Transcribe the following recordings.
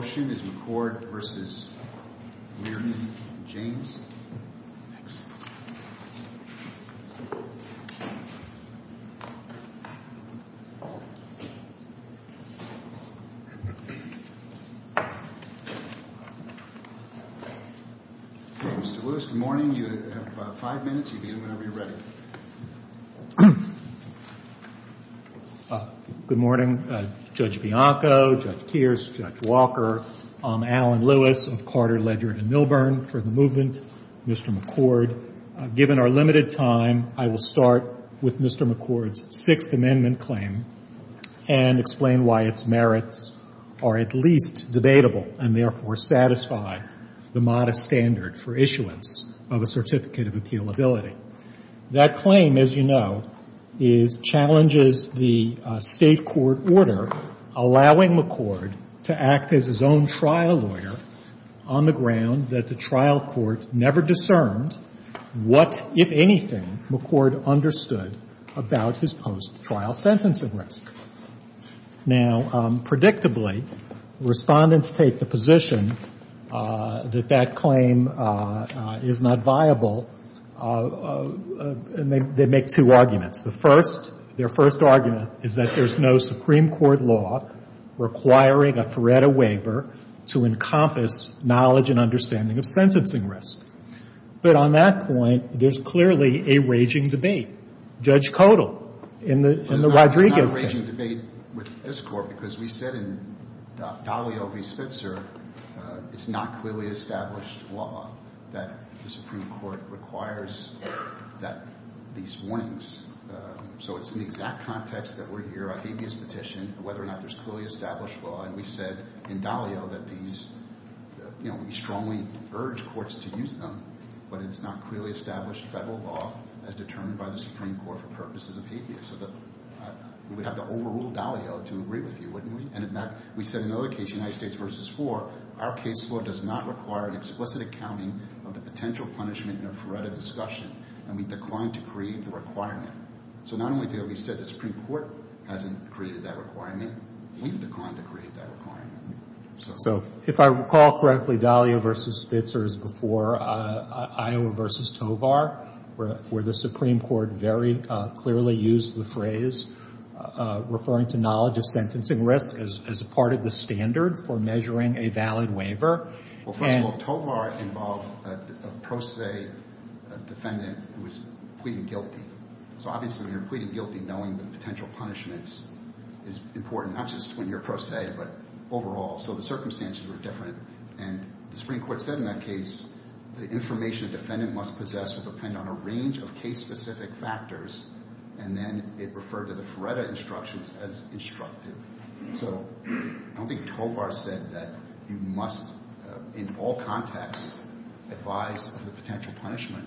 James. Mr. Lewis, good morning. You have five minutes. You can begin whenever you're ready. Good morning, Judge Bianco, Judge Pierce, Judge Walker. I'm Alan Lewis of Carter, Ledyard, and Milburn for the movement. Mr. McCord, given our limited time, I will start with Mr. McCord's Sixth Amendment claim and explain why its merits are at least debatable and therefore satisfy the modest standard for issuance of a certificate of appealability. That claim, as you know, challenges the State court order allowing McCord to act as his own trial lawyer on the ground that the trial court never discerned what, if anything, McCord understood about his post-trial sentencing risk. Now, predictably, Respondents take the position that that claim is not viable, and they make two arguments. The first, their first argument is that there's no Supreme Court law requiring a Feretta waiver to encompass knowledge and understanding of sentencing risk. But on that point, there's clearly a raging debate. Judge Codal in the Rodriguez case. There's a debate with this Court because we said in Dalio v. Spitzer, it's not clearly established law that the Supreme Court requires these warnings. So it's in the exact context that we're here, a habeas petition, whether or not there's clearly established law. And we said in Dalio that these, you know, we strongly urge courts to use them, but it's not clearly established federal law as determined by the Supreme Court for purposes of habeas. So we'd have to overrule Dalio to agree with you, wouldn't we? And in that, we said in another case, United States v. 4, our case law does not require an explicit accounting of the potential punishment in a Feretta discussion, and we've declined to create the requirement. So not only did we say the Supreme Court hasn't created that requirement, we've declined to create that requirement. So if I recall correctly, Dalio v. Spitzer is before Iowa v. Tovar, where the Supreme Court very clearly used the phrase referring to knowledge of sentencing risk as part of the standard for measuring a valid waiver. Well, for example, Tovar involved a pro se defendant who was pleading guilty. So obviously, when you're pleading guilty, knowing the potential punishments is important, not just when you're pro se, but overall. So the circumstances were different, and the Supreme Court said in that case the information a defendant must possess would depend on a range of case-specific factors, and then it referred to the Feretta instructions as instructive. So I don't think Tovar said that you must in all contexts advise of the potential punishment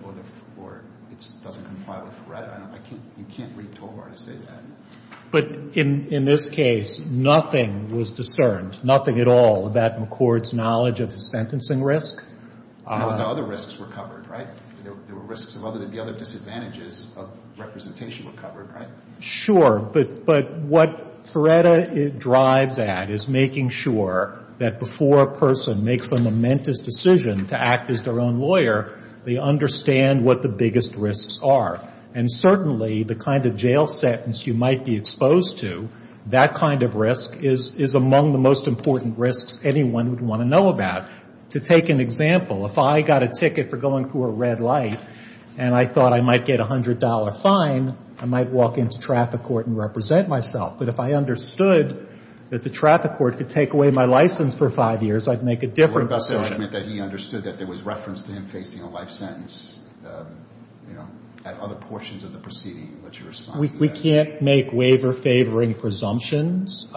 or it doesn't comply with Feretta. I can't – you can't read Tovar to say that. But in this case, nothing was discerned, nothing at all about McCord's knowledge of the sentencing risk. No other risks were covered, right? There were risks of other – the other disadvantages of representation were covered, right? Sure. But what Feretta drives at is making sure that before a person makes the momentous decision to act as their own lawyer, they understand what the biggest risks are. And certainly, the kind of jail sentence you might be exposed to, that kind of risk is among the most important risks anyone would want to know about. To take an example, if I got a ticket for going through a red light and I thought I might get a $100 fine, I might walk into traffic court and represent myself. But if I understood that the traffic court could take away my license for five years, I'd make a different decision. I mean, that he understood that there was reference to him facing a life sentence, you know, at other portions of the proceeding, what's your response to that? We can't make waiver-favoring presumptions.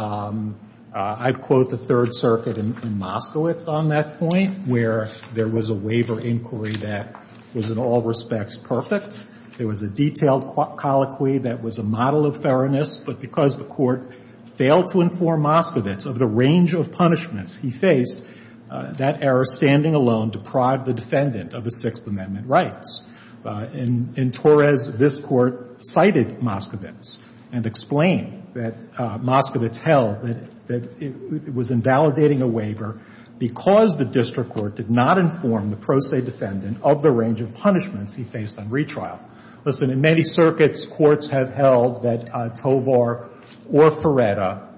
I'd quote the Third Circuit in Moskowitz on that point, where there was a waiver inquiry that was in all respects perfect. There was a detailed colloquy that was a model of fairness. But because the Court failed to inform Moskowitz of the range of punishments he faced, that error standing alone deprived the defendant of the Sixth Amendment rights. In Torres, this Court cited Moskowitz and explained that Moskowitz held that it was invalidating a waiver because the district court did not inform the pro se defendant of the range of punishments he faced on retrial. Listen, in many circuits, courts have held that Tovar or Feretta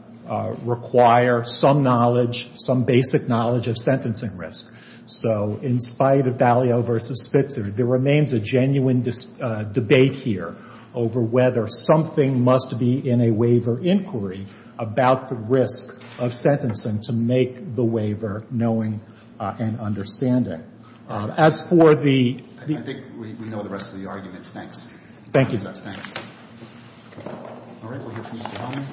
require some knowledge, some basic knowledge of sentencing risk. So in spite of Dalio v. Spitzer, there remains a genuine debate here over whether something must be in a waiver inquiry about the risk of sentencing to make the waiver knowing and understanding. As for the ---- I think we know the rest of the arguments. Thank you. Thanks. All right. We'll hear from Mr. Hellman.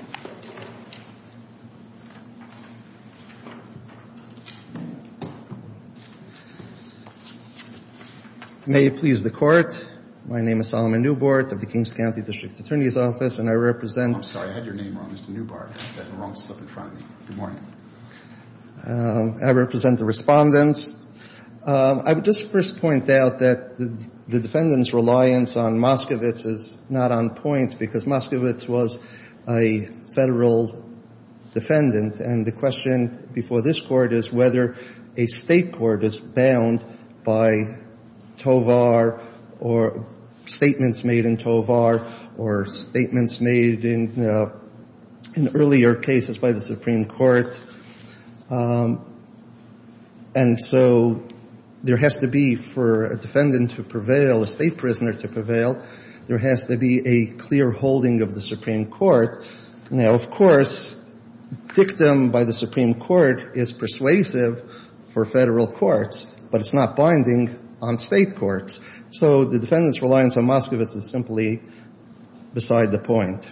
May it please the Court. My name is Solomon Newbart of the Kings County District Attorney's Office, and I represent ---- I'm sorry. I had your name wrong, Mr. Newbart. I had the wrong slip in front of me. Good morning. I represent the respondents. I would just first point out that the defendant's reliance on Moskowitz is not on point because Moskowitz was a Federal defendant. And the question before this Court is whether a State court is bound by Tovar or statements made in Tovar or statements made in earlier cases by the Supreme Court. And so there has to be, for a defendant to prevail, a State prisoner to prevail, there has to be a clear holding of the Supreme Court. Now, of course, dictum by the Supreme Court is persuasive for Federal courts, but it's not binding on State courts. So the defendant's reliance on Moskowitz is simply beside the point.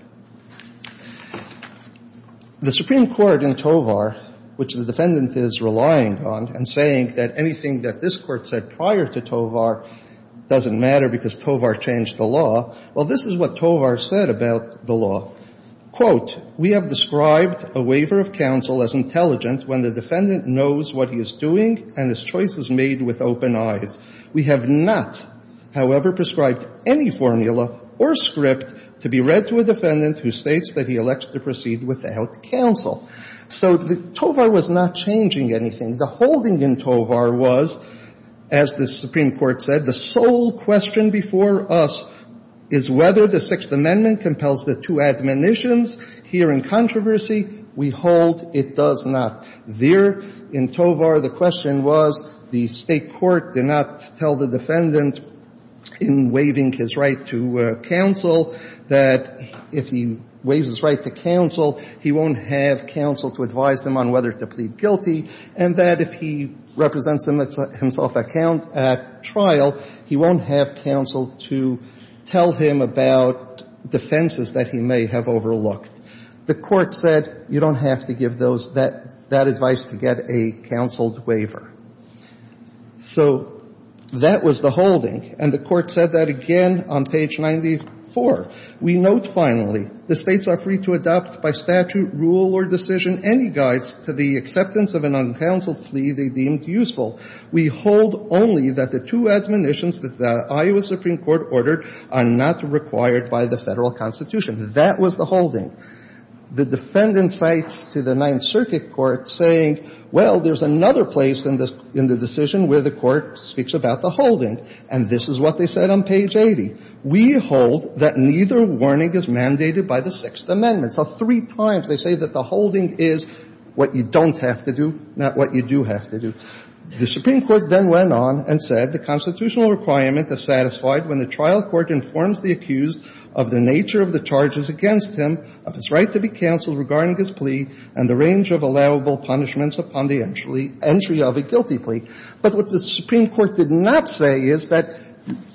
The Supreme Court in Tovar, which the defendant is relying on and saying that anything that this Court said prior to Tovar doesn't matter because Tovar changed the law, well, this is what Tovar said about the law. Quote, we have described a waiver of counsel as intelligent when the defendant knows what he is doing and his choice is made with open eyes. We have not, however, prescribed any formula or script to be read to a defendant who states that he elects to proceed without counsel. So Tovar was not changing anything. The holding in Tovar was, as the Supreme Court said, the sole question before us is whether the Sixth Amendment compels the two admonitions. Here in controversy, we hold it does not. There in Tovar, the question was the State court did not tell the defendant in waiving his right to counsel that if he waives his right to counsel, he won't have counsel to advise him on whether to plead guilty, and that if he represents himself at trial, he won't have counsel to tell him about defenses that he may have overlooked. The Court said you don't have to give that advice to get a counsel waiver. So that was the holding, and the Court said that again on page 94. We note, finally, the States are free to adopt by statute, rule, or decision any guides to the acceptance of an uncounseled plea they deemed useful. We hold only that the two admonitions that the Iowa Supreme Court ordered are not required by the Federal Constitution. That was the holding. The defendant cites to the Ninth Circuit Court saying, well, there's another place in the decision where the Court speaks about the holding, and this is what they said on page 80. We hold that neither warning is mandated by the Sixth Amendment. So three times they say that the holding is what you don't have to do, not what you do have to do. The Supreme Court then went on and said the constitutional requirement is satisfied when the trial court informs the accused of the nature of the charges against him, of his right to be counseled regarding his plea, and the range of allowable punishments upon the entry of a guilty plea. But what the Supreme Court did not say is that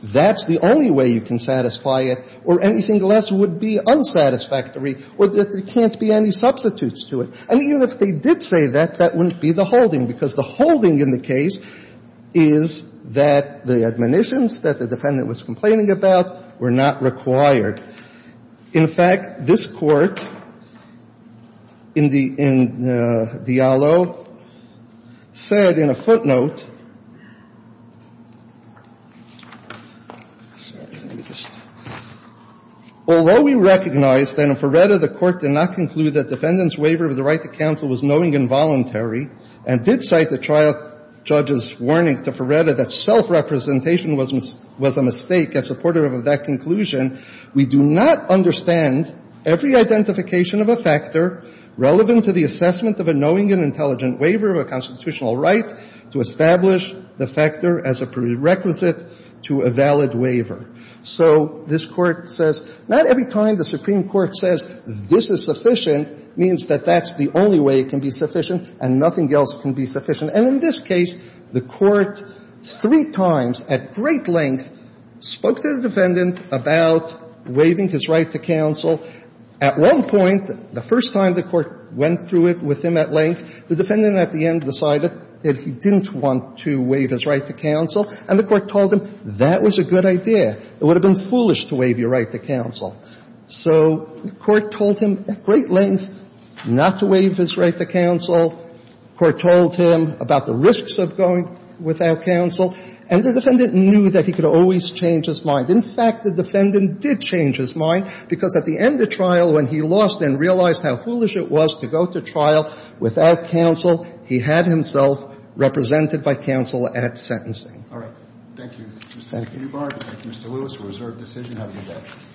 that's the only way you can satisfy it, or anything less would be unsatisfactory, or that there can't be any substitutes to it. And even if they did say that, that wouldn't be the holding, because the holding in the case is that the admonitions that the defendant was complaining about were not required. In fact, this Court in the ALO said in a footnote, although we recognize that in Feretta, the Court did not conclude that defendant's waiver of the right to counsel was knowing involuntary, and did cite the trial judge's warning to Feretta that self-representation was a mistake, as supportive of that conclusion, we do not recognize that the defendant We do not understand every identification of a factor relevant to the assessment of a knowing and intelligent waiver of a constitutional right to establish the factor as a prerequisite to a valid waiver. So this Court says not every time the Supreme Court says this is sufficient means that that's the only way it can be sufficient and nothing else can be sufficient. And in this case, the Court three times at great length spoke to the defendant about waiving his right to counsel. At one point, the first time the Court went through it with him at length, the defendant at the end decided that he didn't want to waive his right to counsel. And the Court told him that was a good idea. It would have been foolish to waive your right to counsel. So the Court told him at great length not to waive his right to counsel. The Court told him about the risks of going without counsel. And the defendant knew that he could always change his mind. In fact, the defendant did change his mind because at the end of trial, when he lost and realized how foolish it was to go to trial without counsel, he had himself represented by counsel at sentencing. Thank you. Thank you. Thank you, Mr. Lewis. A reserved decision. Have a good day.